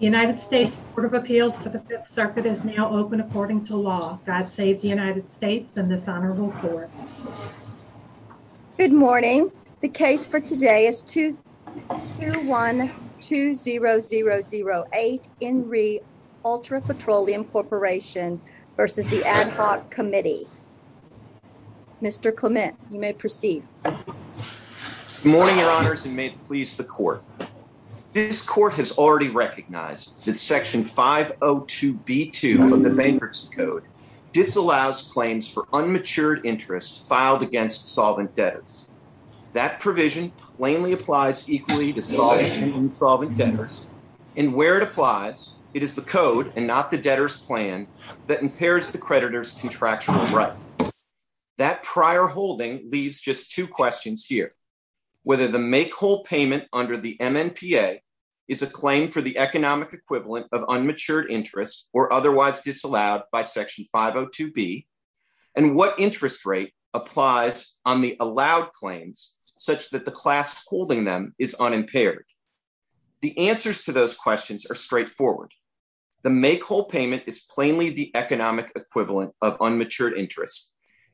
United States Court of Appeals for the Fifth Circuit is now open according to law. God save the United States and this honorable court. Good morning. The case for today is 2-1-2-0-0-0-8 Enri Ultra Petroleum Corporation v. Ad Hoc Committee. Mr. Clement, you may proceed. Good morning, your honors, and may it please the court. This court has already recognized that section 502b2 of the bankruptcy code disallows claims for unmatured interest filed against solvent debtors. That provision plainly applies equally to solvent debtors and where it applies, it is the code and not the debtor's plan that impairs the creditor's contractual rights. That prior holding leaves just two questions here. Whether the make whole payment under the MNPA is a claim for the economic equivalent of unmatured interest or otherwise disallowed by section 502b and what interest rate applies on the allowed claims such that the class holding them is unimpaired. The answers to those questions are straightforward. The make whole payment is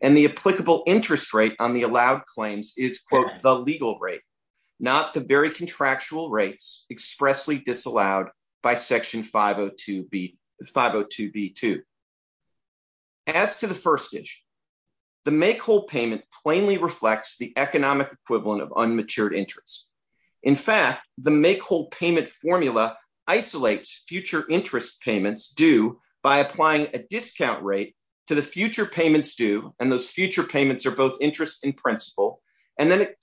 and the applicable interest rate on the allowed claims is the legal rate, not the very contractual rates expressly disallowed by section 502b2. As to the first issue, the make whole payment plainly reflects the economic equivalent of unmatured interest. In fact, the make whole payment formula isolates future interest payments due by applying a discount rate to the future payments due and those future payments are both interest in principle and then it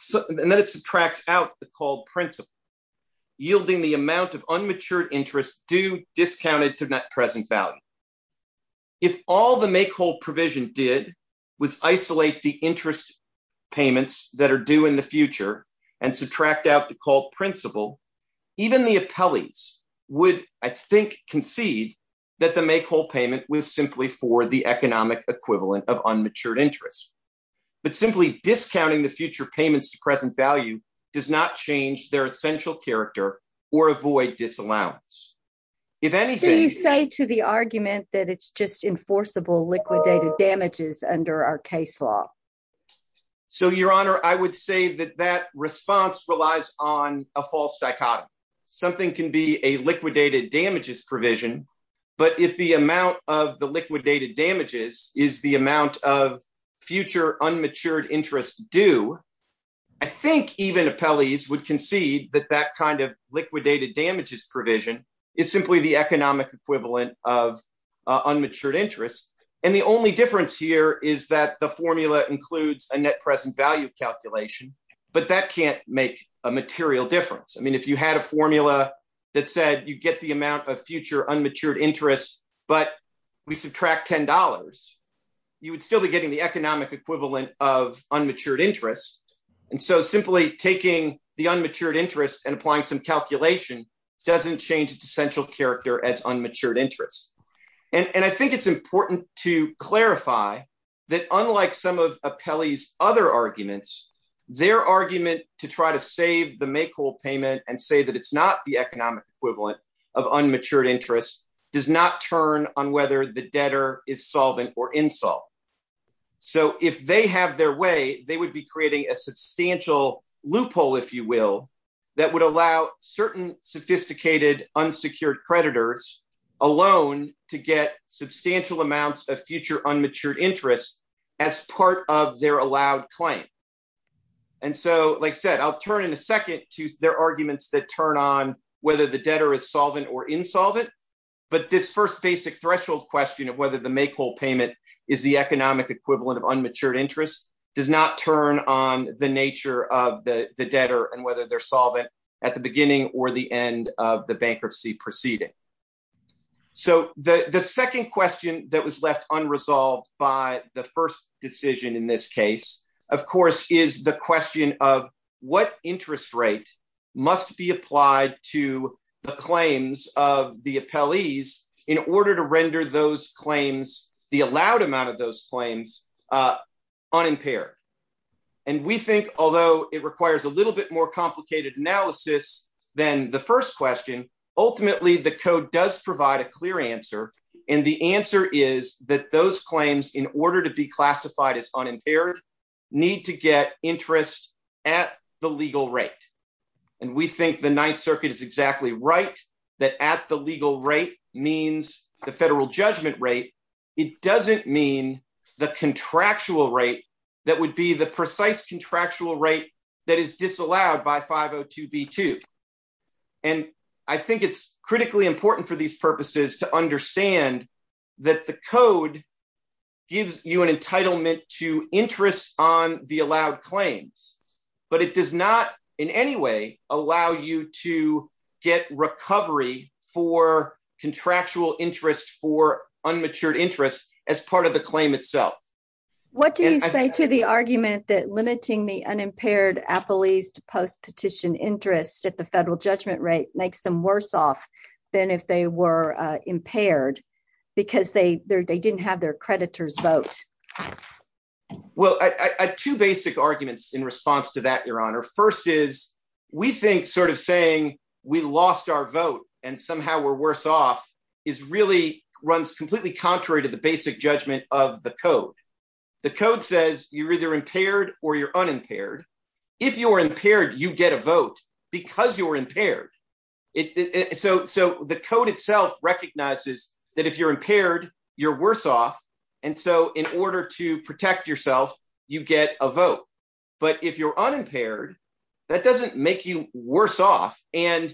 subtracts out the called principle, yielding the amount of unmatured interest due discounted to net present value. If all the make whole provision did was isolate the interest payments that are due in the future and subtract out the called principle, even the appellees would, I think, concede that the make whole payment was simply for the economic equivalent of unmatured interest. But simply discounting the future payments to present value does not change their essential character or avoid disallowance. If anything... Do you say to the argument that it's just enforceable liquidated damages under our case law? So your honor, I would say that that response relies on a false dichotomy. Something can be a liquidated damages provision, but if the amount of the liquidated damages is the amount of future unmatured interest due, I think even appellees would concede that that kind of liquidated damages provision is simply the economic equivalent of unmatured interest. And the only difference here is that the formula includes a net present value calculation, but that can't make a material difference. I mean, if you had a formula that said you get the amount of future unmatured interest, but we subtract $10, you would still be getting the economic equivalent of unmatured interest. And so simply taking the unmatured interest and applying some calculation doesn't change its essential character as unmatured that unlike some of appellee's other arguments, their argument to try to save the make whole payment and say that it's not the economic equivalent of unmatured interest does not turn on whether the debtor is solvent or insult. So if they have their way, they would be creating a substantial loophole, if you will, that would allow certain sophisticated unsecured creditors alone to get substantial amounts of future unmatured interest as part of their allowed claim. And so, like I said, I'll turn in a second to their arguments that turn on whether the debtor is solvent or insolvent. But this first basic threshold question of whether the make whole payment is the economic equivalent of unmatured interest does not turn on the nature of the debtor and whether they're solvent at the beginning or the end of the bankruptcy proceeding. So the second question that was left unresolved by the first decision in this case, of course, is the question of what interest rate must be applied to the claims of the appellees in order to render those claims, the allowed amount of those claims, unimpaired. And we think although it requires a little bit more complicated analysis than the first question, ultimately the code does provide a clear answer. And the answer is that those claims, in order to be classified as unimpaired, need to get interest at the legal rate. And we think the Ninth Circuit is exactly right that at the legal rate means the federal judgment rate. It doesn't mean the contractual rate that would be the precise contractual rate that is disallowed by 502b2. And I think it's critically important for these purposes to understand that the code gives you an entitlement to interest on the allowed claims, but it does not in any way allow you to get recovery for contractual interest for unmatured interest as part of the claim itself. What do you say to the argument that limiting the unimpaired appellees to post-petition interest at federal judgment rate makes them worse off than if they were impaired because they didn't have their creditor's vote? Well, I have two basic arguments in response to that, Your Honor. First is we think sort of saying we lost our vote and somehow we're worse off really runs completely contrary to the basic judgment of the code. The code says you're either impaired or you're impaired. So the code itself recognizes that if you're impaired, you're worse off. And so in order to protect yourself, you get a vote. But if you're unimpaired, that doesn't make you worse off. And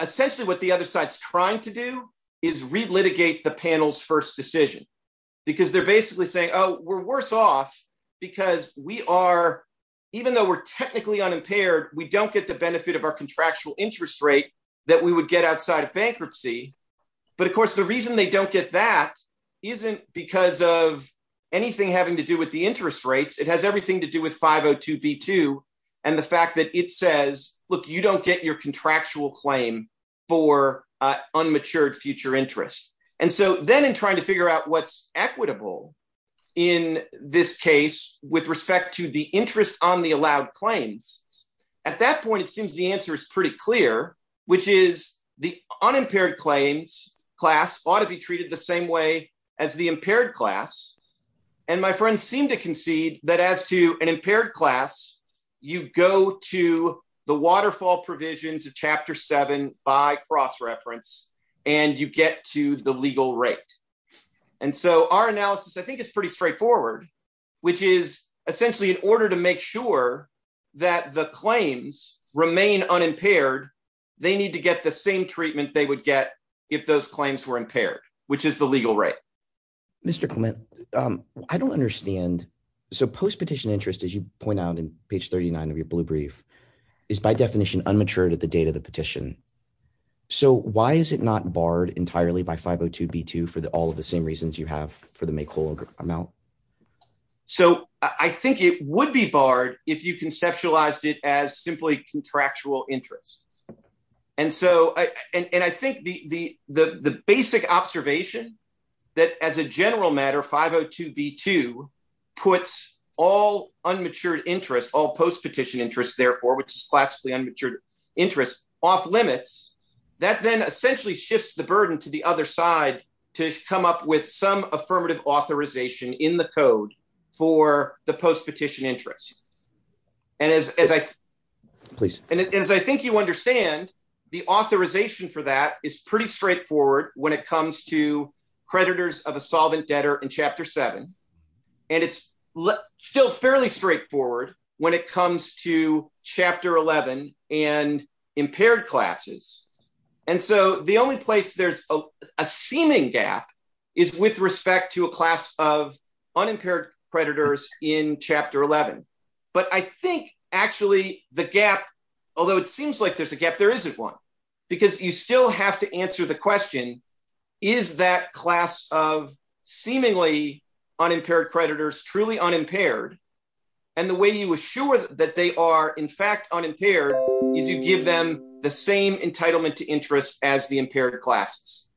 essentially what the other side's trying to do is re-litigate the panel's first decision because they're basically saying, oh, we're worse off because even though we're technically unimpaired, we don't get the benefit of our contractual interest rate that we would get outside of bankruptcy. But of course, the reason they don't get that isn't because of anything having to do with the interest rates. It has everything to do with 502b2 and the fact that it says, look, you don't get your contractual claim for unmatured future interest. And so then in trying to figure out what's equitable in this case with respect to the interest on the allowed claims, at that point, it seems the answer is pretty clear, which is the unimpaired claims class ought to be treated the same way as the impaired class. And my friends seem to concede that as to an impaired class, you go to the waterfall provisions of Chapter 7 by cross reference and you get to the legal rate. And so our analysis, I think, is pretty straightforward, which is essentially in order to make sure that the claims remain unimpaired, they need to get the same treatment they would get if those claims were impaired, which is the legal rate. Mr. Clement, I don't understand. So post-petition interest, as you point out in page 39 of your blue brief, is by definition unmatured at the date of the petition. So why is it not barred entirely by 502b2 for all of the same reasons you have for the make whole amount? So I think it would be barred if you conceptualized it as simply contractual interest. And I think the basic observation that as a general matter, 502b2 puts all unmatured interest, all post-petition interest, therefore, which is classically unmatured interest off limits, that then essentially shifts the burden to the other side to come up with some affirmative authorization in the code for the post-petition interest. And as I think you understand, the authorization for that is pretty straightforward when it comes to creditors of a solvent debtor in chapter seven. And it's still fairly straightforward when it comes to chapter 11 and impaired classes. And so the only place there's a seeming gap is with respect to a class of unimpaired creditors in chapter 11. But I think actually the gap, although it seems like there's a gap, there isn't one because you still have to answer the question, is that class of seemingly unimpaired creditors truly unimpaired? And the way you assure that they are in fact unimpaired is you give them the same entitlement to interest as the impaired classes.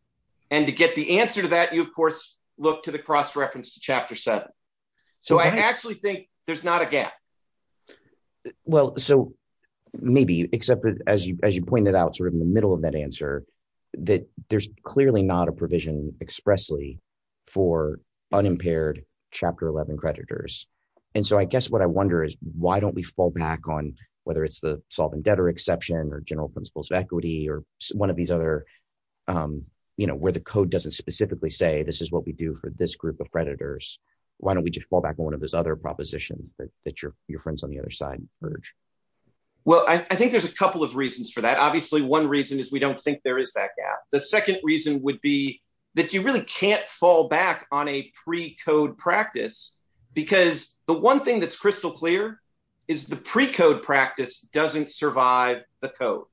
And to get the answer to that, you of course look to the cross-reference to chapter seven. So I actually think there's not a gap. Well, so maybe, except as you pointed out sort there's clearly not a provision expressly for unimpaired chapter 11 creditors. And so I guess what I wonder is why don't we fall back on, whether it's the solvent debtor exception or general principles of equity or one of these other, where the code doesn't specifically say, this is what we do for this group of creditors. Why don't we just fall back on one of those other propositions that your friends on the other side urge? Well, I think there's a couple of reasons for that. Obviously one reason is we don't think there is that gap. The second reason would be that you really can't fall back on a pre-code practice because the one thing that's crystal clear is the pre-code practice doesn't survive the code.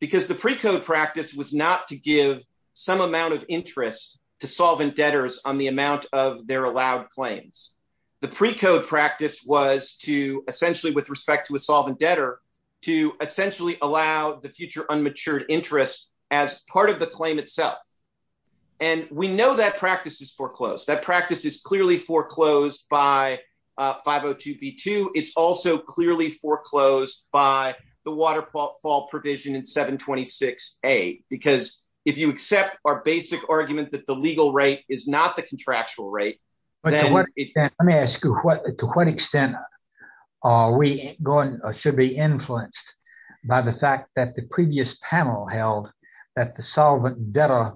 Because the pre-code practice was not to give some amount of interest to solvent debtors on the amount of their allowed claims. The pre-code practice was to essentially with respect to a solvent debtor to essentially allow the future unmatured interest as part of the claim itself. And we know that practice is foreclosed. That practice is clearly foreclosed by 502b2. It's also clearly foreclosed by the waterfall provision in 726a. Because if you accept our basic argument that the legal rate is not the contractual rate. But to what extent, let me ask you, to what extent are we going, should be influenced by the fact that the previous panel held that the solvent debtor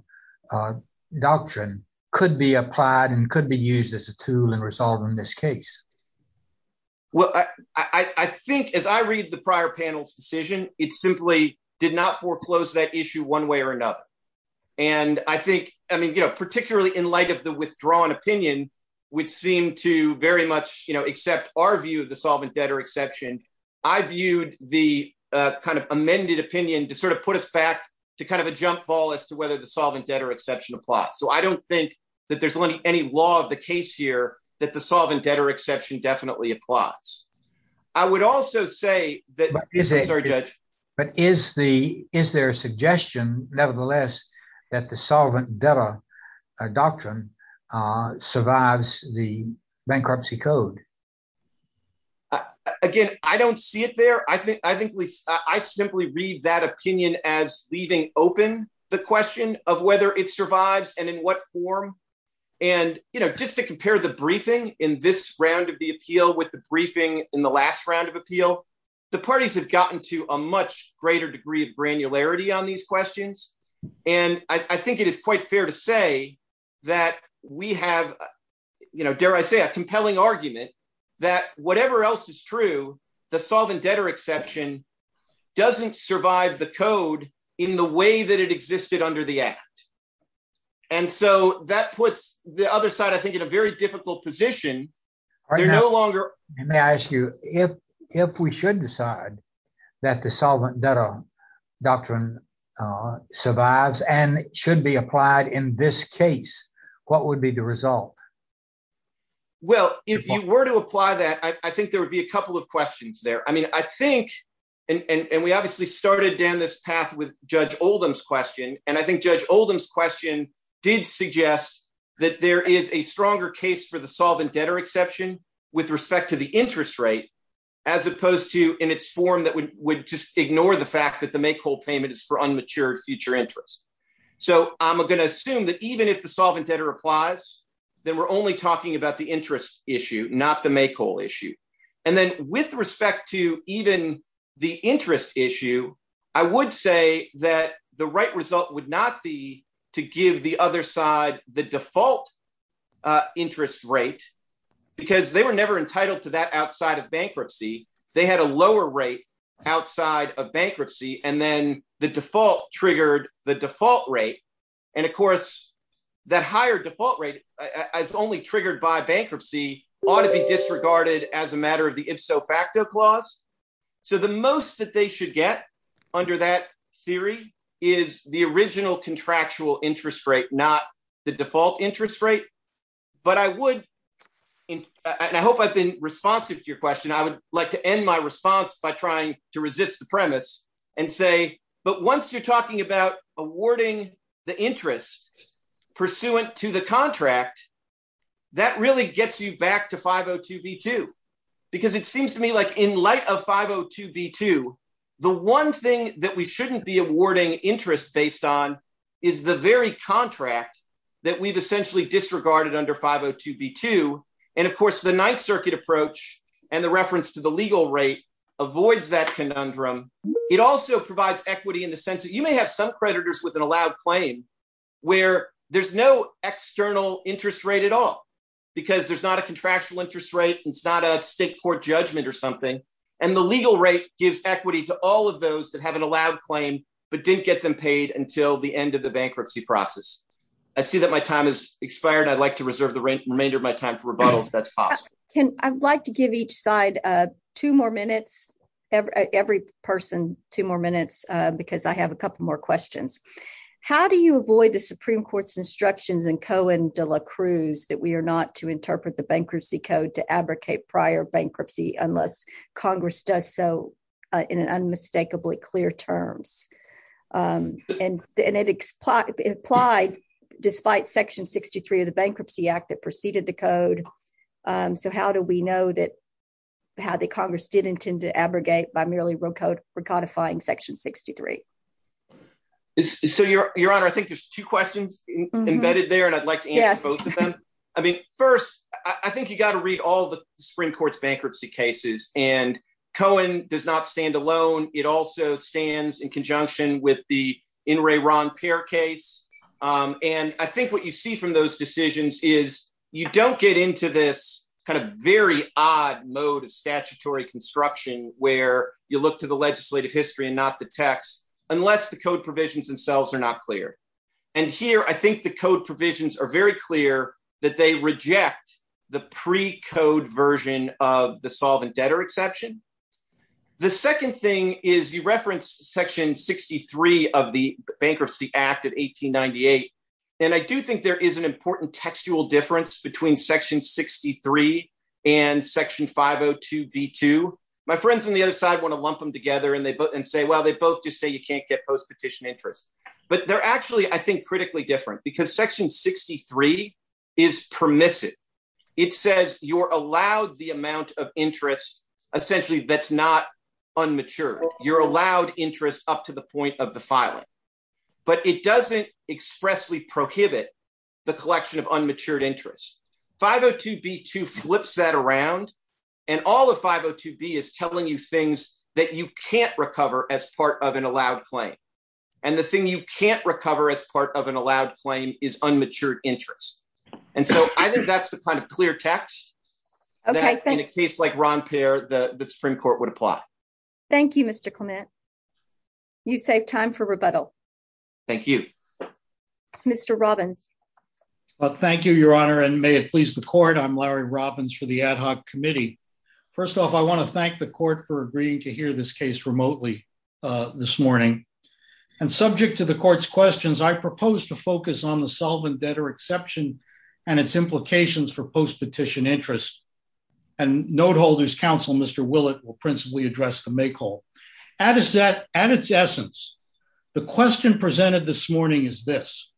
doctrine could be applied and could be used as a tool in resolving this case? Well, I think as I read the prior panel's decision, it simply did not foreclose that issue one way or another. And I think, I mean, you know, particularly in light of the withdrawn opinion, which seemed to very much, you know, accept our view of the solvent debtor exception. I viewed the kind of amended opinion to sort of put us back to kind of a jump ball as to whether the solvent debtor exception applies. So I don't think that there's any law of the case here that the solvent debtor exception definitely applies. I would also say that... survives the bankruptcy code. Again, I don't see it there. I think I simply read that opinion as leaving open the question of whether it survives and in what form. And, you know, just to compare the briefing in this round of the appeal with the briefing in the last round of appeal, the parties have gotten to a much greater degree of granularity on these questions. And I think it is quite fair to say that we have, you know, dare I say, a compelling argument that whatever else is true, the solvent debtor exception doesn't survive the code in the way that it existed under the act. And so that puts the other side, I think, in a very difficult position. All right. May I ask you if we should decide that the solvent debtor doctrine survives and should be applied in this case, what would be the result? Well, if you were to apply that, I think there would be a couple of questions there. I mean, I think, and we obviously started down this path with Judge Oldham's question, and I think Judge Oldham's question did suggest that there is a stronger case for the solvent debtor exception with respect to the interest rate, as opposed to in its form that would just ignore the fact that the make whole payment is for unmatured future interest. So I'm going to assume that even if the solvent debtor applies, then we're only talking about the interest issue, not the make whole issue. And then with respect to even the interest issue, I would say that the right result would not be to give the other side the default interest rate, because they were and then the default triggered the default rate. And of course, that higher default rate is only triggered by bankruptcy, ought to be disregarded as a matter of the ifso facto clause. So the most that they should get under that theory is the original contractual interest rate, not the default interest rate. But I would, and I hope I've been responsive to your question, I would like to end my response by trying to resist the premise and say, but once you're talking about awarding the interest pursuant to the contract, that really gets you back to 502b2. Because it seems to me like in light of 502b2, the one thing that we shouldn't be awarding interest based on is the very contract that we've essentially disregarded under 502b2. And of course, the legal rate avoids that conundrum. It also provides equity in the sense that you may have some creditors with an allowed claim, where there's no external interest rate at all, because there's not a contractual interest rate. It's not a state court judgment or something. And the legal rate gives equity to all of those that have an allowed claim, but didn't get them paid until the end of the bankruptcy process. I see that my time has expired. I'd like to reserve the remainder of my time for rebuttal if that's possible. I'd like to give each side two more minutes, every person two more minutes, because I have a couple more questions. How do you avoid the Supreme Court's instructions in Cohen de la Cruz that we are not to interpret the bankruptcy code to advocate prior bankruptcy unless Congress does so in an unmistakably clear terms? And it applied despite Section 63 of the Congress. So how do we know that Congress did intend to abrogate by merely recodifying Section 63? So, Your Honor, I think there's two questions embedded there, and I'd like to answer both of them. I mean, first, I think you got to read all the Supreme Court's bankruptcy cases. And Cohen does not stand alone. It also stands in conjunction with the In re Ron Peer case. And I think what you see from those decisions is you don't get into this kind of very odd mode of statutory construction where you look to the legislative history and not the text, unless the code provisions themselves are not clear. And here, I think the code provisions are very clear that they reject the precode version of the solvent debtor exception. The second thing is you reference Section 63 of the Bankruptcy Act of 1898, and I do think there is an important textual difference between Section 63 and Section 502b2. My friends on the other side want to lump them together and say, well, they both just say you can't get post-petition interest. But they're actually, I think, critically different because Section 63 is permissive. It says you're allowed the amount of interest, essentially, that's not unmatured. You're allowed interest up to the point of the filing. But it doesn't expressly prohibit the collection of unmatured interest. 502b2 flips that around, and all of 502b is telling you things that you can't recover as part of an allowed claim. And the thing you can't recover as part of an allowed claim is unmatured interest. And so I think that's the kind of clear text that, in a case like Ron Payer, the Supreme Court would apply. Thank you, Mr. Clement. You saved time for rebuttal. Thank you. Mr. Robbins. Thank you, Your Honor, and may it please the Court. I'm Larry Robbins for the Ad Hoc Committee. First off, I want to thank the Court for agreeing to hear this case remotely this morning. And subject to the Court's questions, I propose to focus on the solvent debtor exception and its implications for post-petition interest. And note-holders' counsel, Mr. Willett, will principally address the make-all. At its essence, the question presented this morning is this.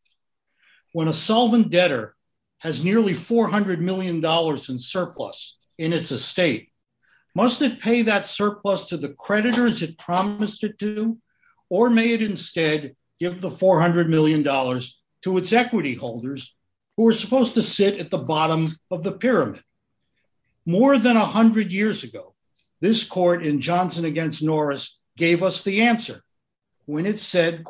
When a solvent debtor has nearly $400 million in surplus in its estate, must it pay that surplus to the creditors it promised it to, or may it instead give the $400 million to its equity holders, who are supposed to sit at the bottom of the pyramid? More than 100 years ago, this Court in Johnson v. Norris gave us the answer when it said,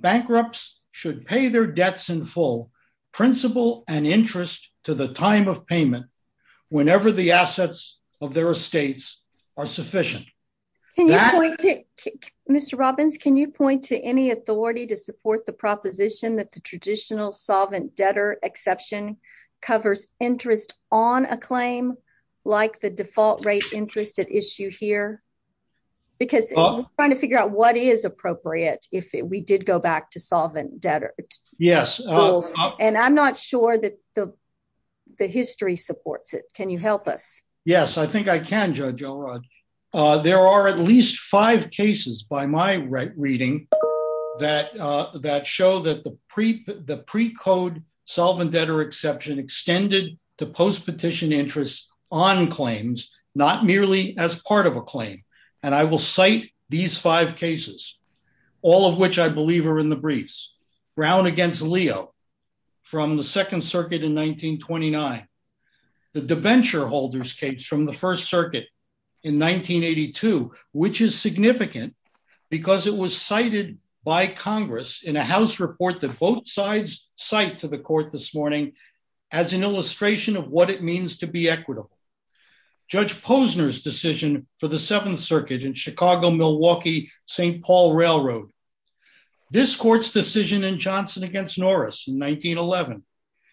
"...bankrupts should pay their debts in full, principal and interest to the time of payment whenever the assets of their estates are sufficient." Mr. Robbins, can you point to any authority to support the proposition that the traditional solvent debtor exception covers interest on a claim, like the default rate interest at issue here? Because we're trying to figure out what is appropriate if we did go back to solvent debtor rules. And I'm not sure that the history supports it. Can you help us? Yes, I think I can, Judge O'Rourke. There are at least five cases by my reading that show that the precode solvent debtor exception extended to post-petition interest on claims, not merely as part of a claim. And I will cite these five cases, all of which I believe are in the briefs. Brown v. Leo from the Second Circuit in 1929. The debenture holder's case from the First Circuit in 1982, which is significant because it was cited by Congress in a House report that both sides cite to the Court this morning as an illustration of what it means to be equitable. Judge Posner's decision for the Seventh Circuit in Chicago-Milwaukee-St. Paul Railroad. This Court's decision in Johnson v. Norris in 1911.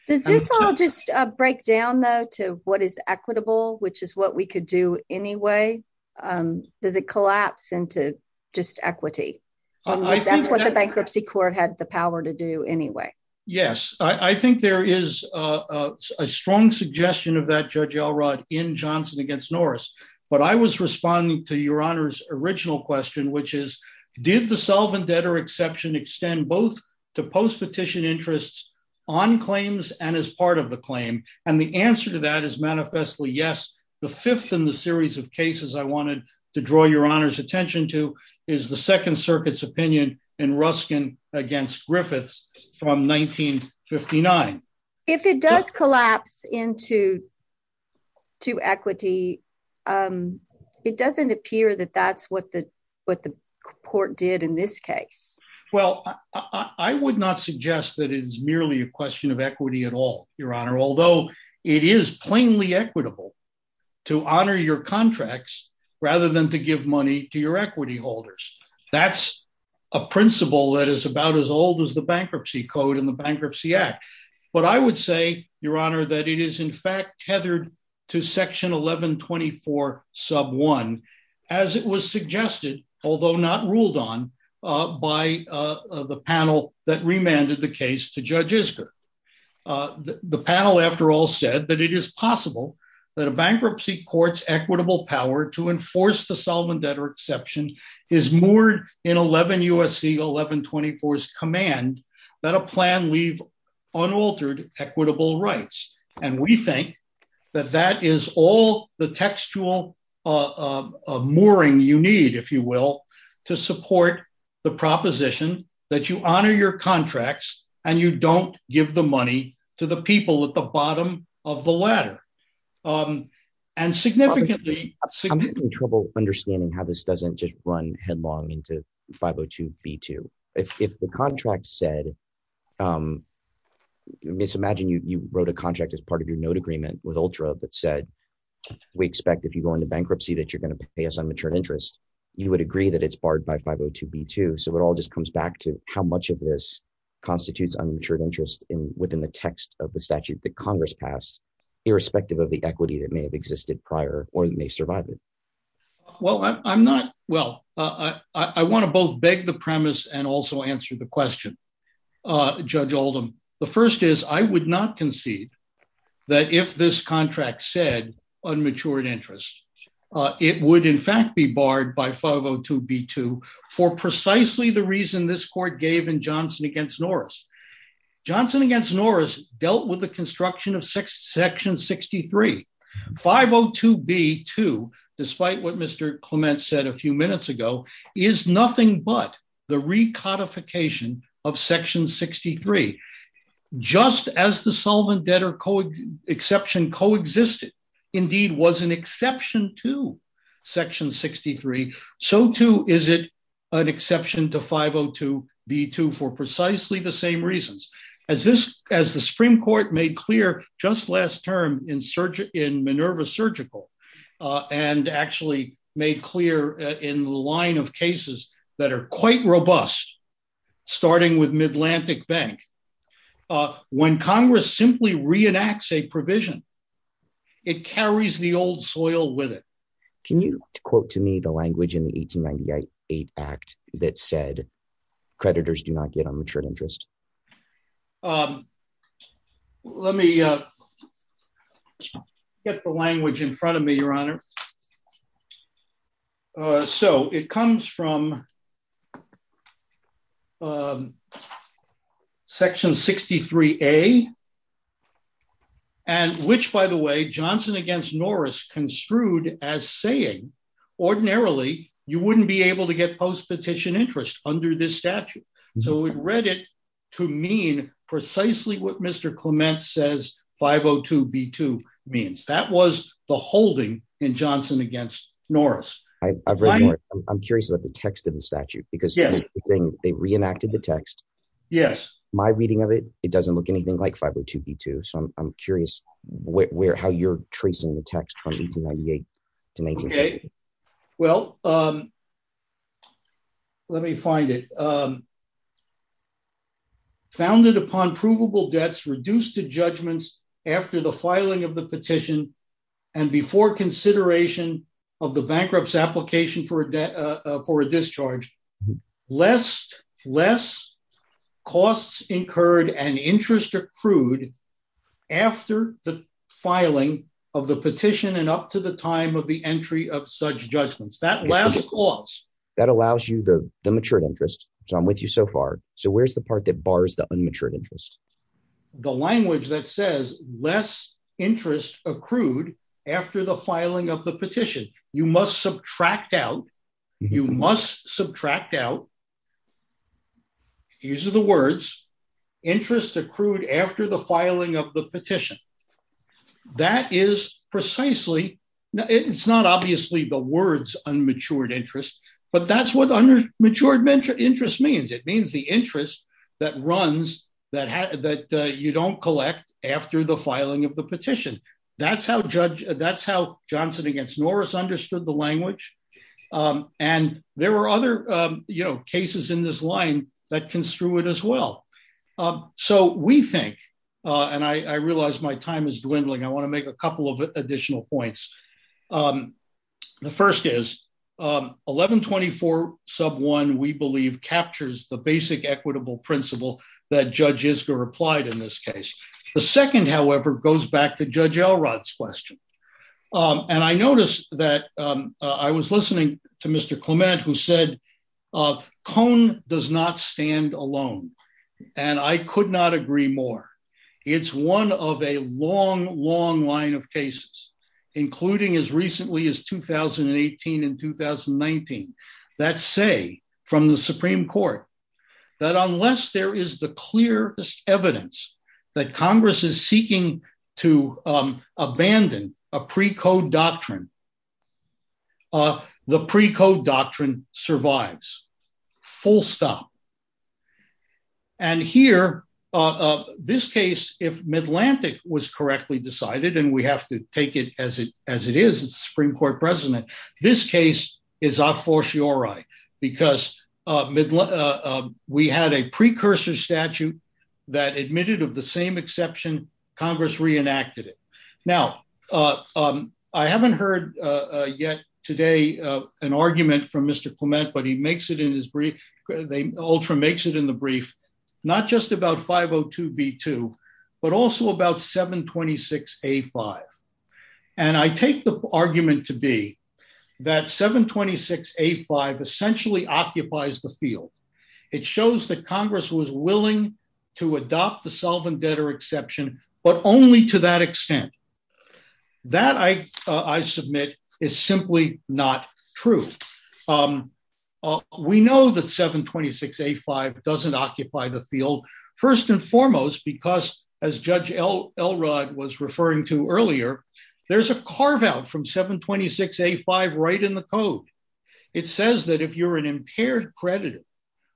Does this all just break down, though, to what is equitable, which is what we could do anyway? Does it collapse into just equity? That's what the bankruptcy court had the power to do anyway. Yes, I think there is a strong suggestion of that, Judge Elrod, in Johnson v. Norris. But I was responding to Your Honor's original question, which is, did the solvent debtor exception extend both to post-petition interests on claims and as part of the claim? And the answer to that is manifestly yes. The fifth in the series of cases I wanted to draw Your Honor's attention to is the Second Circuit's opinion in Ruskin v. Griffiths from 1959. If it does collapse into equity, it doesn't appear that that's what the Court did in this case. Well, I would not suggest that it is merely a question of equity at all, Your Honor, although it is plainly equitable to honor your contracts rather than to give money to your equity holders. That's a principle that is about as old as the Bankruptcy Code and the Bankruptcy Act. But I would say, Your Honor, that it is in fact tethered to Section 1124, Sub 1, as it was suggested, although not ruled on, by the panel that remanded the case to Judge Isker. The panel, after all, said that it is possible that a bankruptcy court's equitable power to enforce the solvent debtor exception is moored in 11 U.S.C. 1124's command that a plan leave unaltered equitable rights. And we think that that is all the textual mooring you need, if you will, to support the proposition that you honor your contracts and you don't give the money to the this doesn't just run headlong into 502b2. If the contract said, let's imagine you wrote a contract as part of your note agreement with ULTRA that said, we expect if you go into bankruptcy that you're going to pay us unmatured interest, you would agree that it's barred by 502b2. So it all just comes back to how much of this constitutes unmatured interest within the text of the statute that Congress passed, irrespective of the equity that may have existed prior or may survive it. Well, I'm not, well, I want to both beg the premise and also answer the question, Judge Oldham. The first is I would not concede that if this contract said unmatured interest, it would in fact be barred by 502b2 for precisely the reason this court gave in Johnson against Norris. Johnson against Norris dealt with the construction of section 63. 502b2, despite what Clement said a few minutes ago, is nothing but the recodification of section 63. Just as the solvent debtor exception co-existed, indeed was an exception to section 63, so too is it an exception to 502b2 for precisely the same reasons. As this, as the Supreme Court made just last term in Minerva Surgical and actually made clear in the line of cases that are quite robust, starting with Midlantic Bank, when Congress simply reenacts a provision, it carries the old soil with it. Can you quote to me the language in the 1898 Act that said creditors do not get unmatured interest? Let me get the language in front of me, Your Honor. So it comes from section 63a, and which, by the way, Johnson against Norris construed as saying ordinarily you wouldn't be able to get post-petition interest under this statute. So it read it to mean precisely what Mr. Clement says 502b2 means. That was the holding in Johnson against Norris. I'm curious about the text of the statute because they reenacted the text. Yes. My reading of it, it doesn't look anything like 502b2, so I'm curious how you're tracing the text from 1898 to 1980. Well, let me find it. Founded upon provable debts reduced to judgments after the filing of the petition and before consideration of the bankruptcy application for a discharge, less costs incurred and interest accrued after the filing of the petition and up to the time of the entry of such judgments. That last clause. That allows you the matured interest. So I'm with you so far. So where's the part that bars the unmatured interest? The language that says less interest accrued after the filing of the petition. You must subtract out. You must subtract out. These are the words. Interest accrued after the filing of the petition. That is precisely, it's not obviously the words unmatured interest, but that's what matured interest means. It means the interest that runs, that you don't collect after the filing of the petition. That's how Johnson against Norris understood the language. And there were other cases in this line that construe it as well. So we think, and I realize my time is dwindling, I want to make a couple of additional points. The first is 1124 sub one, we believe captures the basic equitable principle that Judge Isger replied in this case. The second, however, goes back to Judge Elrod's question. And I noticed that I was listening to Mr. Clement who said, Cone does not stand alone. And I could not agree more. It's one of a long, long line of cases, including as recently as 2018 and 2019, that say from the Supreme Court, that unless there is the clearest evidence that Congress is seeking to abandon a precode doctrine, the precode doctrine survives, full stop. And here, this case, if Midlantic was correctly decided, and we have to take it as it is, it's a Supreme Court precedent, this case is a fortiori, because we had a precursor statute that admitted of the same exception, Congress reenacted it. Now, I haven't heard yet today, an argument from Mr. Clement, but he makes it in his brief, Ultra makes it in the brief, not just about 502B2, but also about 726A5. And I take the argument to be that 726A5 essentially occupies the field. It shows that Congress was willing to adopt the precode doctrine. That, I submit, is simply not true. We know that 726A5 doesn't occupy the field, first and foremost, because as Judge Elrod was referring to earlier, there's a carve out from 726A5 right in the code. It says that if you're an impaired creditor,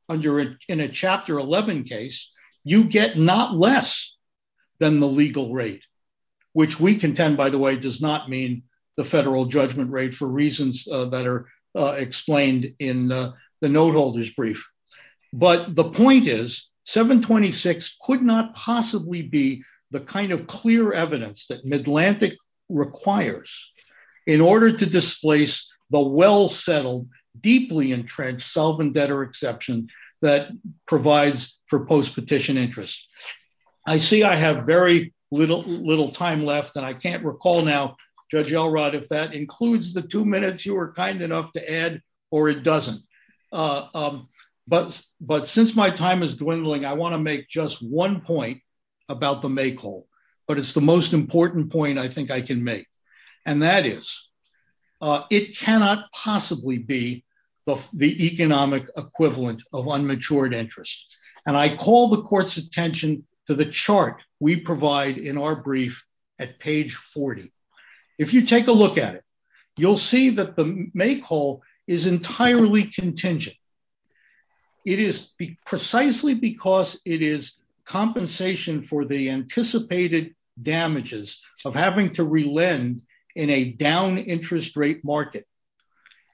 in a Chapter 11 case, you get not less than the legal rate, which we contend, by the way, does not mean the federal judgment rate for reasons that are explained in the note holder's brief. But the point is, 726 could not possibly be the kind of clear evidence that Midlantic requires in order to interest. I see I have very little time left, and I can't recall now, Judge Elrod, if that includes the two minutes you were kind enough to add, or it doesn't. But since my time is dwindling, I want to make just one point about the make whole. But it's the most important point I think I can make. And that is, it cannot possibly be the economic equivalent of unmatured and I call the court's attention to the chart we provide in our brief at page 40. If you take a look at it, you'll see that the make whole is entirely contingent. It is precisely because it is compensation for the anticipated damages of having to relend in a down interest rate market.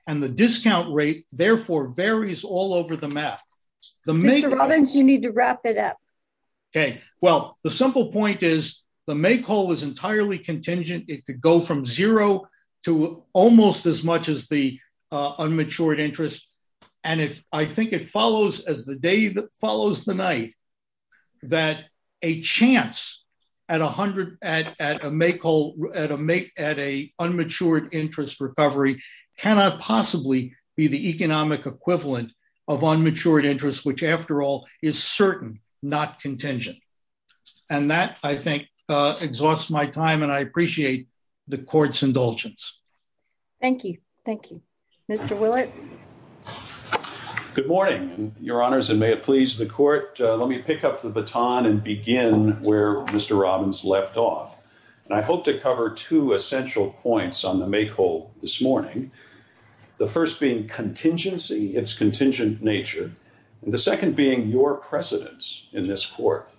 And the discount rate therefore varies all over the map. Mr. Robbins, you need to wrap it up. Okay, well, the simple point is, the make whole is entirely contingent, it could go from zero to almost as much as the unmatured interest. And if I think it follows as the day that follows the night, that a chance at 100 at a make whole at a make at a unmatured interest recovery cannot possibly be the economic equivalent of unmatured interest, which after all is certain not contingent. And that I think exhausts my time and I appreciate the court's indulgence. Thank you. Thank you, Mr. Willett. Good morning, your honors and may it please the court. Let me pick up the baton and begin where Mr. Robbins left off. And I hope to cover two essential points on the make whole this morning. The first being contingency, it's contingent nature. The second being your precedence in this court.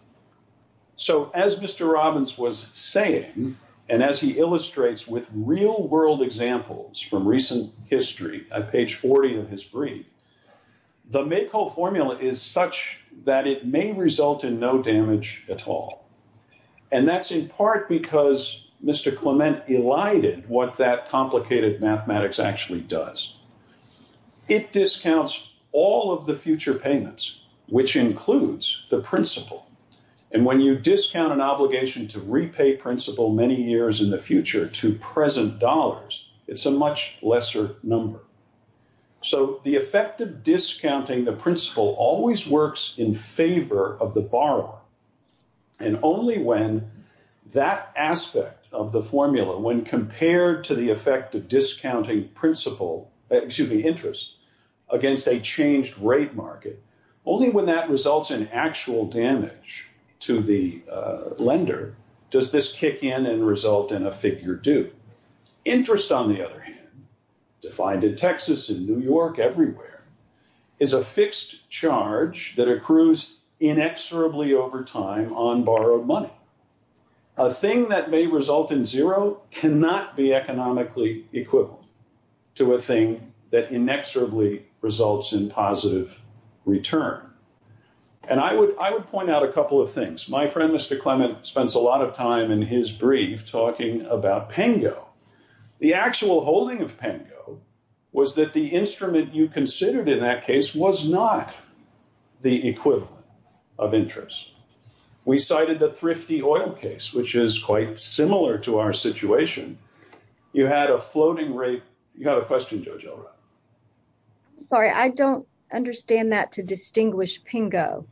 So as Mr. Robbins was saying, and as he illustrates with real world examples from recent history at page 40 of his brief, the make whole formula is such that it may result in no damage at all. And that's in part because Mr. Clement elided what that complicated mathematics actually does. It discounts all of the future payments, which includes the principal. And when you discount an obligation to repay principal many years in the future to present dollars, it's a much lesser number. So the effect of discounting the principal always works in favor of the borrower. And only when that aspect of the formula, when compared to the effect of discounting interest against a changed rate market, only when that results in actual damage to the lender does this kick in and result in a figure due. Interest on the other hand, defined in Texas, in New York, everywhere, is a fixed charge that accrues inexorably over time on borrowed money. A thing that may result in zero cannot be economically equivalent to a thing that inexorably results in positive return. And I would point out a couple of things. My was that the instrument you considered in that case was not the equivalent of interest. We cited the thrifty oil case, which is quite similar to our situation. You had a floating rate. You have a question, Judge Elrod? Sorry, I don't understand that to distinguish PINGO.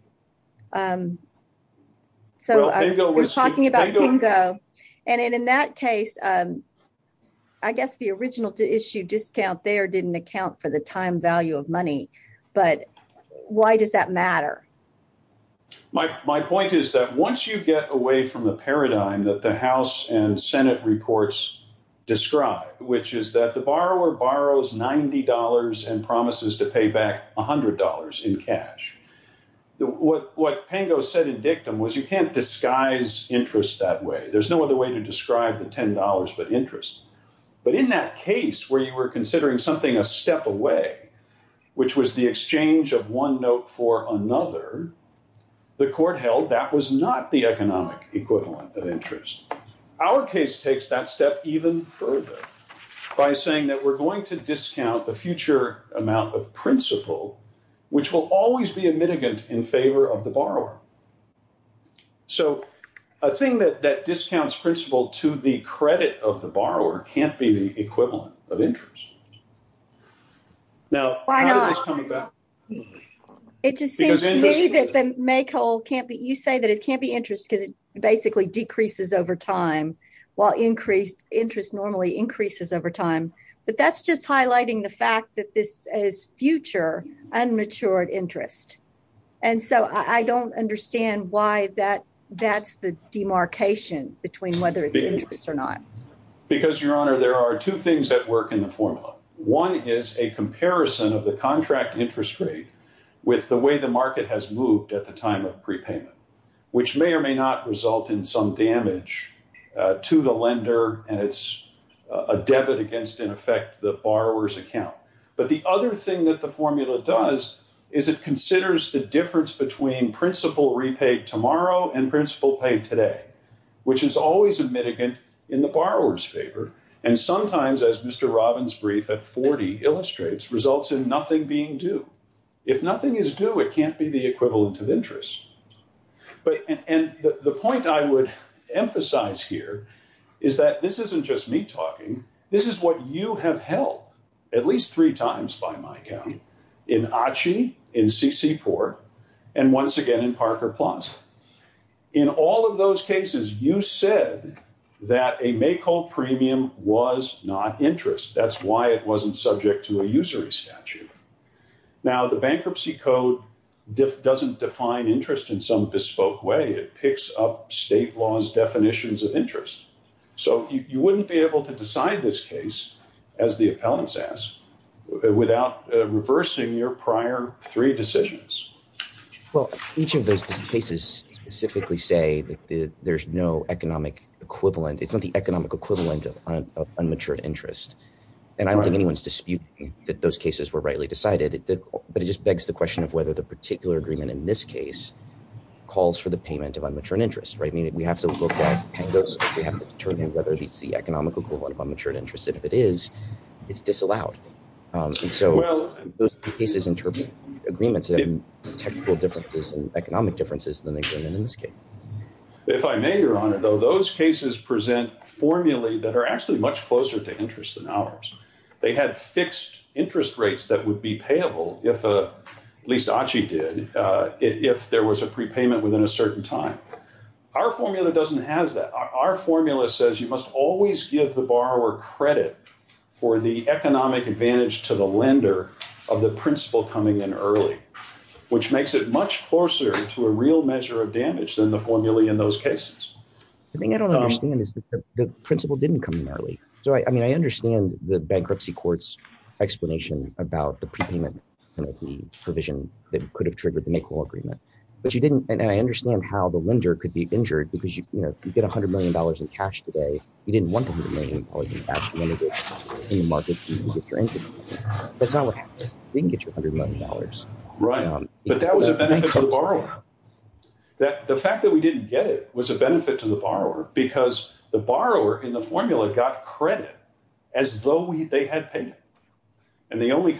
So we're talking about PINGO. And in that case, I guess the original to issue discount there didn't account for the time value of money. But why does that matter? My point is that once you get away from the paradigm that the House and Senate reports describe, which is that the borrower borrows $90 and promises to pay back $100 in cash, what PINGO said in dictum was you can't disguise interest that way. There's no other way to describe the $10 but interest. But in that case where you were considering something a step away, which was the exchange of one note for another, the court held that was not the economic equivalent of interest. Our case takes that step even further by saying that we're going to discount the future amount of principal, which will always be a mitigant in favor of the borrower. So a thing that discounts principal to the credit of the borrower can't be the equivalent of interest. Now, how did this come about? It just seems to me that the make whole can't be, you say that it can't be interest because it basically decreases over time, while interest normally increases over time. But that's just as future unmatured interest. And so I don't understand why that that's the demarcation between whether it's interest or not. Because your honor, there are two things that work in the formula. One is a comparison of the contract interest rate with the way the market has moved at the time of prepayment, which may or may not result in some damage to the lender. And it's a debit against, in effect, the borrower's account. But the other thing that the formula does is it considers the difference between principal repaid tomorrow and principal paid today, which is always a mitigant in the borrower's favor. And sometimes, as Mr. Robbins' brief at 40 illustrates, results in nothing being due. If nothing is due, it can't be the equivalent of This is what you have held at least three times, by my count, in ACHI, in CCPOR, and once again, in Parker Plaza. In all of those cases, you said that a make whole premium was not interest. That's why it wasn't subject to a usury statute. Now, the Bankruptcy Code doesn't define interest in some bespoke way. It picks up state laws' definitions of interest. So you wouldn't be able to decide this case, as the appellants ask, without reversing your prior three decisions. Well, each of those cases specifically say that there's no economic equivalent. It's not the economic equivalent of unmatured interest. And I don't think anyone's disputing that those cases were rightly decided. But it just begs the question of whether the particular agreement in this case calls for the payment of unmatured interest, right? I mean, we have to look at those. We have to determine whether it's the economic equivalent of unmatured interest. And if it is, it's disallowed. And so those cases interpret agreements and technical differences and economic differences than they bring in in this case. If I may, Your Honor, though, those cases present formulae that are actually much closer to interest than ours. They had fixed interest rates that would be payable if, at least ACHI did, if there was a prepayment within a year. And the formula says you must always give the borrower credit for the economic advantage to the lender of the principal coming in early, which makes it much closer to a real measure of damage than the formulae in those cases. The thing I don't understand is that the principal didn't come in early. So I mean, I understand the bankruptcy court's explanation about the prepayment and the provision that could have triggered the make-all agreement. But you didn't. And I understand how the lender could be injured, because you get $100 million in cash today. You didn't want the $100 million. You wanted it in the market to get your income. That's not what happens. We can get your $100 million. Right. But that was a benefit to the borrower. The fact that we didn't get it was a benefit to the borrower, because the borrower in the formula got credit as though they had paid it. And the only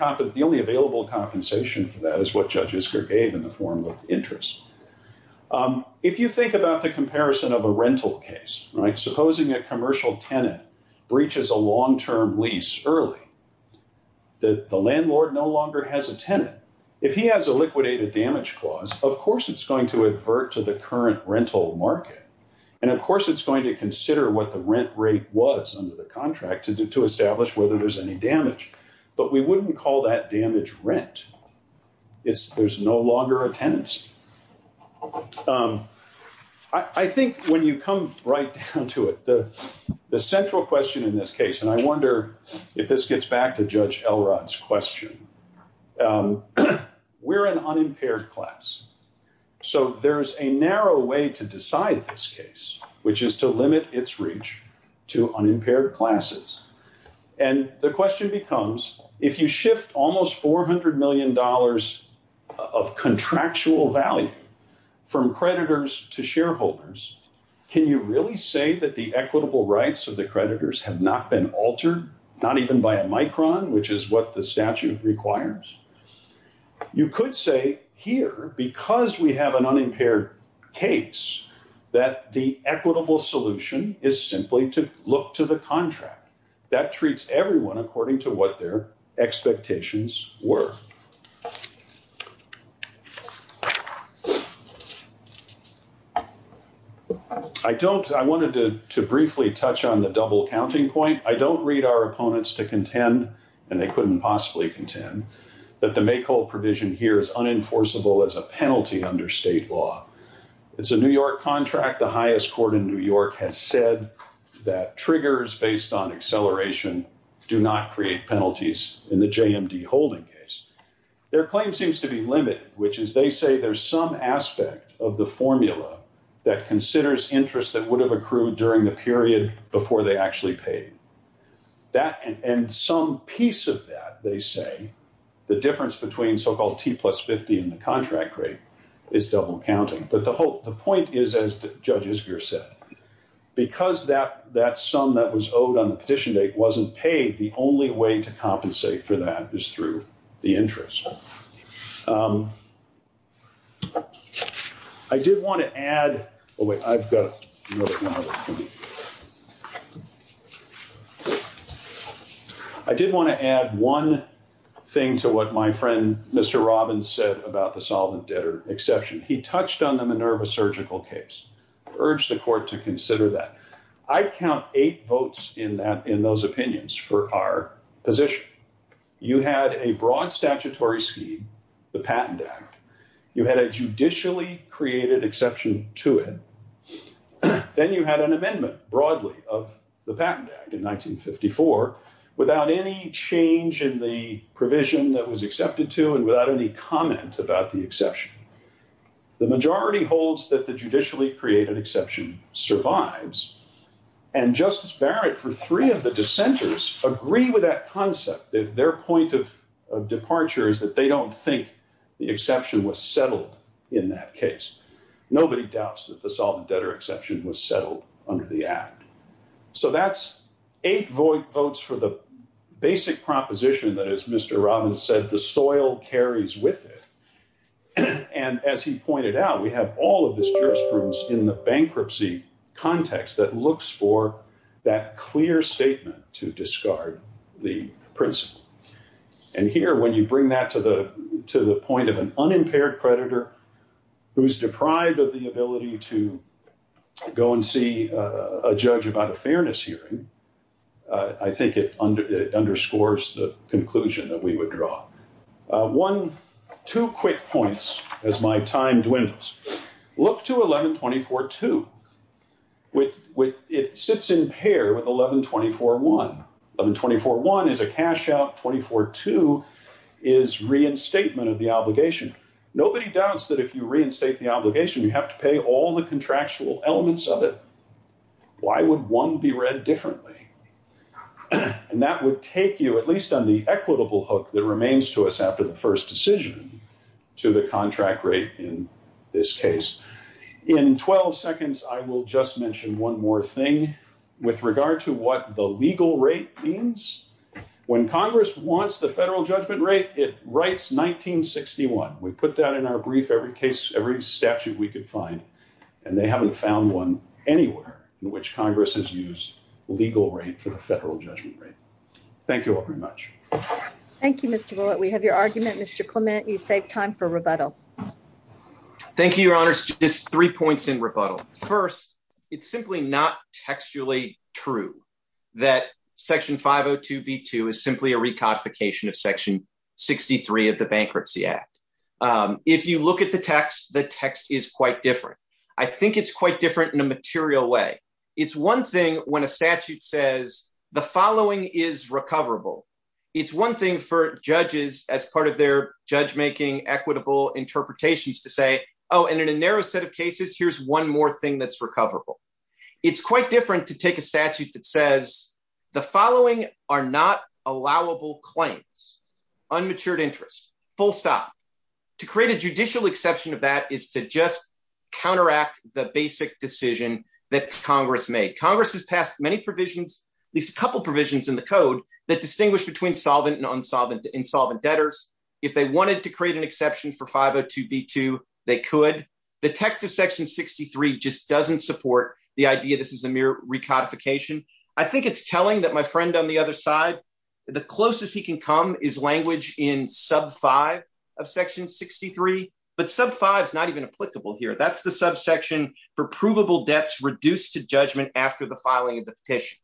available compensation for that is what Judge Isker gave in the form of interest. If you think about the comparison of a rental case, supposing a commercial tenant breaches a long-term lease early, the landlord no longer has a tenant. If he has a liquidated damage clause, of course, it's going to advert to the current rental market. And of course, it's going to consider what the rent rate was under the contract to establish whether there's any damage. But we no longer a tenancy. I think when you come right down to it, the central question in this case, and I wonder if this gets back to Judge Elrod's question, we're an unimpaired class. So there's a narrow way to decide this case, which is to limit its reach to unimpaired classes. And the question becomes, if you shift almost $400 million of contractual value from creditors to shareholders, can you really say that the equitable rights of the creditors have not been altered, not even by a micron, which is what the statute requires? You could say here, because we an unimpaired case, that the equitable solution is simply to look to the contract. That treats everyone according to what their expectations were. I wanted to briefly touch on the double counting point. I don't read our opponents to contend, and they couldn't possibly contend, that the make whole provision here is unenforceable as a penalty under state law. It's a New York contract. The highest court in New York has said that triggers based on acceleration do not create penalties in the JMD holding case. Their claim seems to be limited, which is they say there's some aspect of the formula that considers interest that would have accrued during the period before they actually paid. And some piece of that, they say, the difference between so-called T plus 50 and the contract rate is double counting. But the point is, as Judge Isger said, because that sum that was owed on the petition date wasn't paid, the only way to compensate for that is through the interest. I did want to add one thing to what my friend Mr. Robbins said about the solvent debtor exception. He touched on the Minerva Surgical case. I urge the court to consider that. I count eight votes in those opinions for our position. You had a broad statutory scheme, the Patent Act. You had a judicially created broadly of the Patent Act in 1954 without any change in the provision that was accepted to and without any comment about the exception. The majority holds that the judicially created exception survives. And Justice Barrett, for three of the dissenters, agree with that concept. Their point of departure is that they don't think the exception was settled in that case. Nobody doubts that the solvent debtor exception was settled under the Act. So that's eight votes for the basic proposition that, as Mr. Robbins said, the soil carries with it. And as he pointed out, we have all of this jurisprudence in the bankruptcy context that looks for that clear statement to discard the principle. And here, when you bring that to the point of an unimpaired predator who's deprived of the ability to go and see a judge about a fairness hearing, I think it underscores the conclusion that we would draw. One, two quick points as my time dwindles. Look to 11-24-2. It sits in pair with 11-24-1. 11-24-1 is a cash out. 24-2 is reinstatement of the obligation. Nobody doubts that if you reinstate the obligation, you have to pay all the contractual elements of it. Why would one be read differently? And that would take you, at least on the equitable hook that remains to us after the first decision, to the contract rate in this case. In 12 seconds, I will just mention one more thing with regard to what the legal rate means. When Congress wants the federal judgment rate, it writes 1961. We put that in our brief every case, every statute we could find, and they haven't found one anywhere in which Congress has used legal rate for the federal judgment rate. Thank you all very much. Thank you, Mr. Bullitt. We have your argument. Mr. Clement, you save time for rebuttal. Thank you, Your Honors. Just three points in rebuttal. First, it's simply not textually true that Section 502b2 is simply a recodification of Section 63 of the Bankruptcy Act. If you look at the text, the text is quite different. I think it's quite different in a material way. It's one thing when a statute says the following is recoverable. It's one thing for judges, as part of their judge-making equitable interpretations, to say, oh, and in a narrow set of cases, here's one more thing that's recoverable. It's quite different to take a statute that says the following are not allowable claims, unmatured interest, full stop. To create a judicial exception of that is to just counteract the basic decision that Congress made. Congress has passed many provisions, at least a couple provisions in the code, that distinguish between solvent and insolvent debtors. If they wanted to the text of Section 63 just doesn't support the idea this is a mere recodification. I think it's telling that my friend on the other side, the closest he can come is language in Sub 5 of Section 63, but Sub 5 is not even applicable here. That's the subsection for provable debts reduced to judgment after the filing of the petition.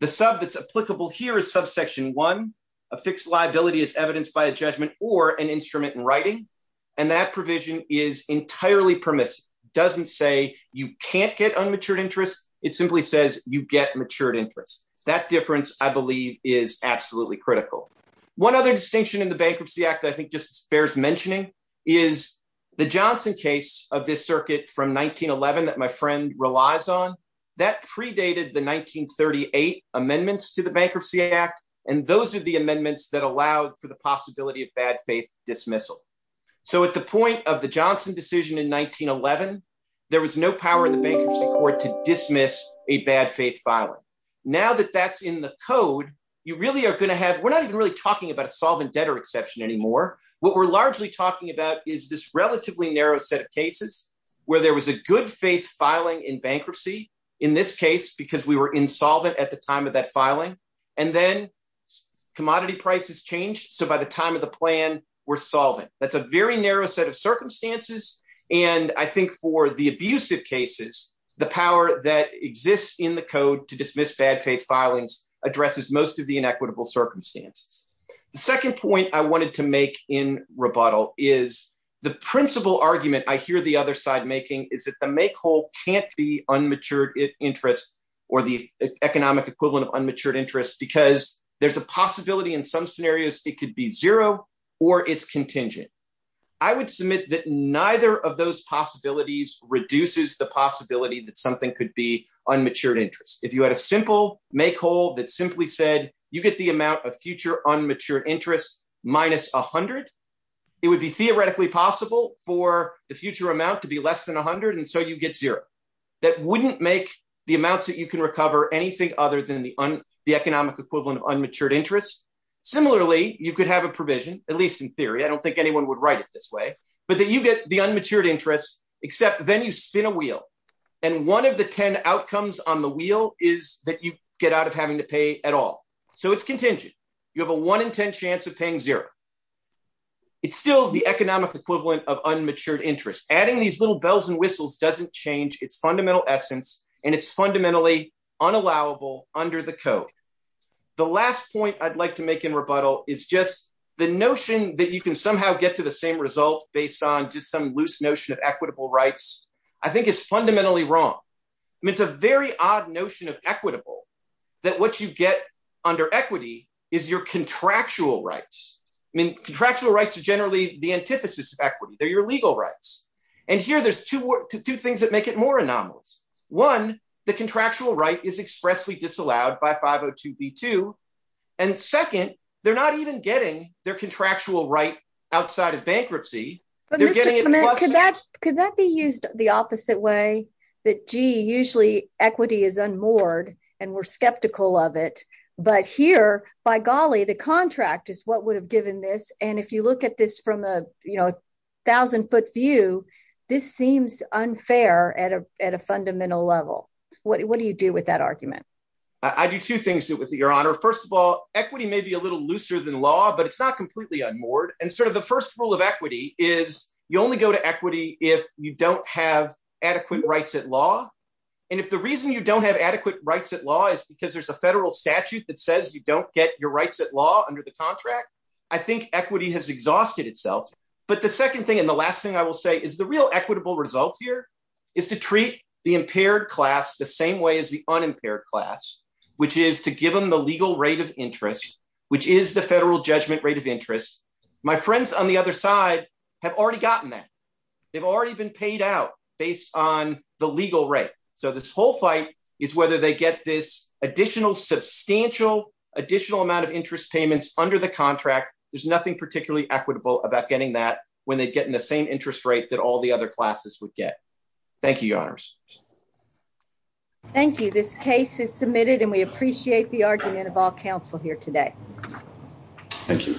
The sub that's applicable here is Subsection 1, a fixed liability as evidenced by a judgment or an instrument in writing, and that provision is entirely permissive. It doesn't say you can't get unmatured interest. It simply says you get matured interest. That difference, I believe, is absolutely critical. One other distinction in the Bankruptcy Act that I think just bears mentioning is the Johnson case of this circuit from 1911 that my friend relies on. That predated the 1938 amendments to the Bankruptcy Act, and those are the amendments that allowed for the possibility of bad faith dismissal. At the point of the Johnson decision in 1911, there was no power in the Bankruptcy Court to dismiss a bad faith filing. Now that that's in the code, we're not even really talking about a solvent debtor exception anymore. What we're largely talking about is this relatively narrow set of cases where there was a good faith filing in bankruptcy, in this case, because we were insolvent at the time of that filing, and then commodity prices changed. So by the time of the plan, we're solving. That's a very narrow set of circumstances, and I think for the abusive cases, the power that exists in the code to dismiss bad faith filings addresses most of the inequitable circumstances. The second point I wanted to make in rebuttal is the principal argument I hear the other side making is that the make whole can't be unmatured interest or the economic equivalent of unmatured interest because there's a possibility in some scenarios it could be zero or it's contingent. I would submit that neither of those possibilities reduces the possibility that something could be unmatured interest. If you had a simple make whole that simply said, you get the amount of future unmatured interest minus 100, it would be theoretically possible for the future amount to be less than 100, and so you get zero. That wouldn't make the amounts that you can recover anything other than the economic equivalent of unmatured interest. Similarly, you could have a provision, at least in theory, I don't think anyone would write it this way, but that you get the unmatured interest except then you spin a wheel and one of the 10 outcomes on the wheel is that you get out of having to pay at all. So it's contingent. You have a 1 in 10 chance of paying zero. It's still the economic equivalent of unmatured interest. Adding these little bells and whistles doesn't change its fundamental essence and it's fundamentally unallowable under the code. The last point I'd like to make in rebuttal is just the notion that you can somehow get to the same result based on just some loose notion of equitable rights I think is fundamentally wrong. I mean it's a very odd notion of equitable that what you get under equity is your contractual rights. I mean contractual rights are generally the antithesis of equity. They're your legal rights and here there's two things that make it anomalous. One, the contractual right is expressly disallowed by 502b2 and second, they're not even getting their contractual right outside of bankruptcy. Could that be used the opposite way? That, gee, usually equity is unmoored and we're skeptical of it but here, by golly, the contract is what would have given this and if you look at this from a thousand foot view, this seems unfair at a fundamental level. What do you do with that argument? I do two things with your honor. First of all, equity may be a little looser than law but it's not completely unmoored and sort of the first rule of equity is you only go to equity if you don't have adequate rights at law and if the reason you don't have adequate rights at law is because there's a federal statute that says you don't get your rights at law under the contract, I think equity has exhausted itself. But the second thing and the last thing I will say is the real equitable result here is to treat the impaired class the same way as the unimpaired class, which is to give them the legal rate of interest, which is the federal judgment rate of interest. My friends on the other side have already gotten that. They've already been paid out based on the legal rate. So this whole fight is whether they get this additional substantial additional amount of interest payments under the contract. There's nothing particularly equitable about getting that when they get in the same interest rate that all the other classes would get. Thank you, your honors. Thank you. This case is submitted and we appreciate the argument of all council here today. Thank you.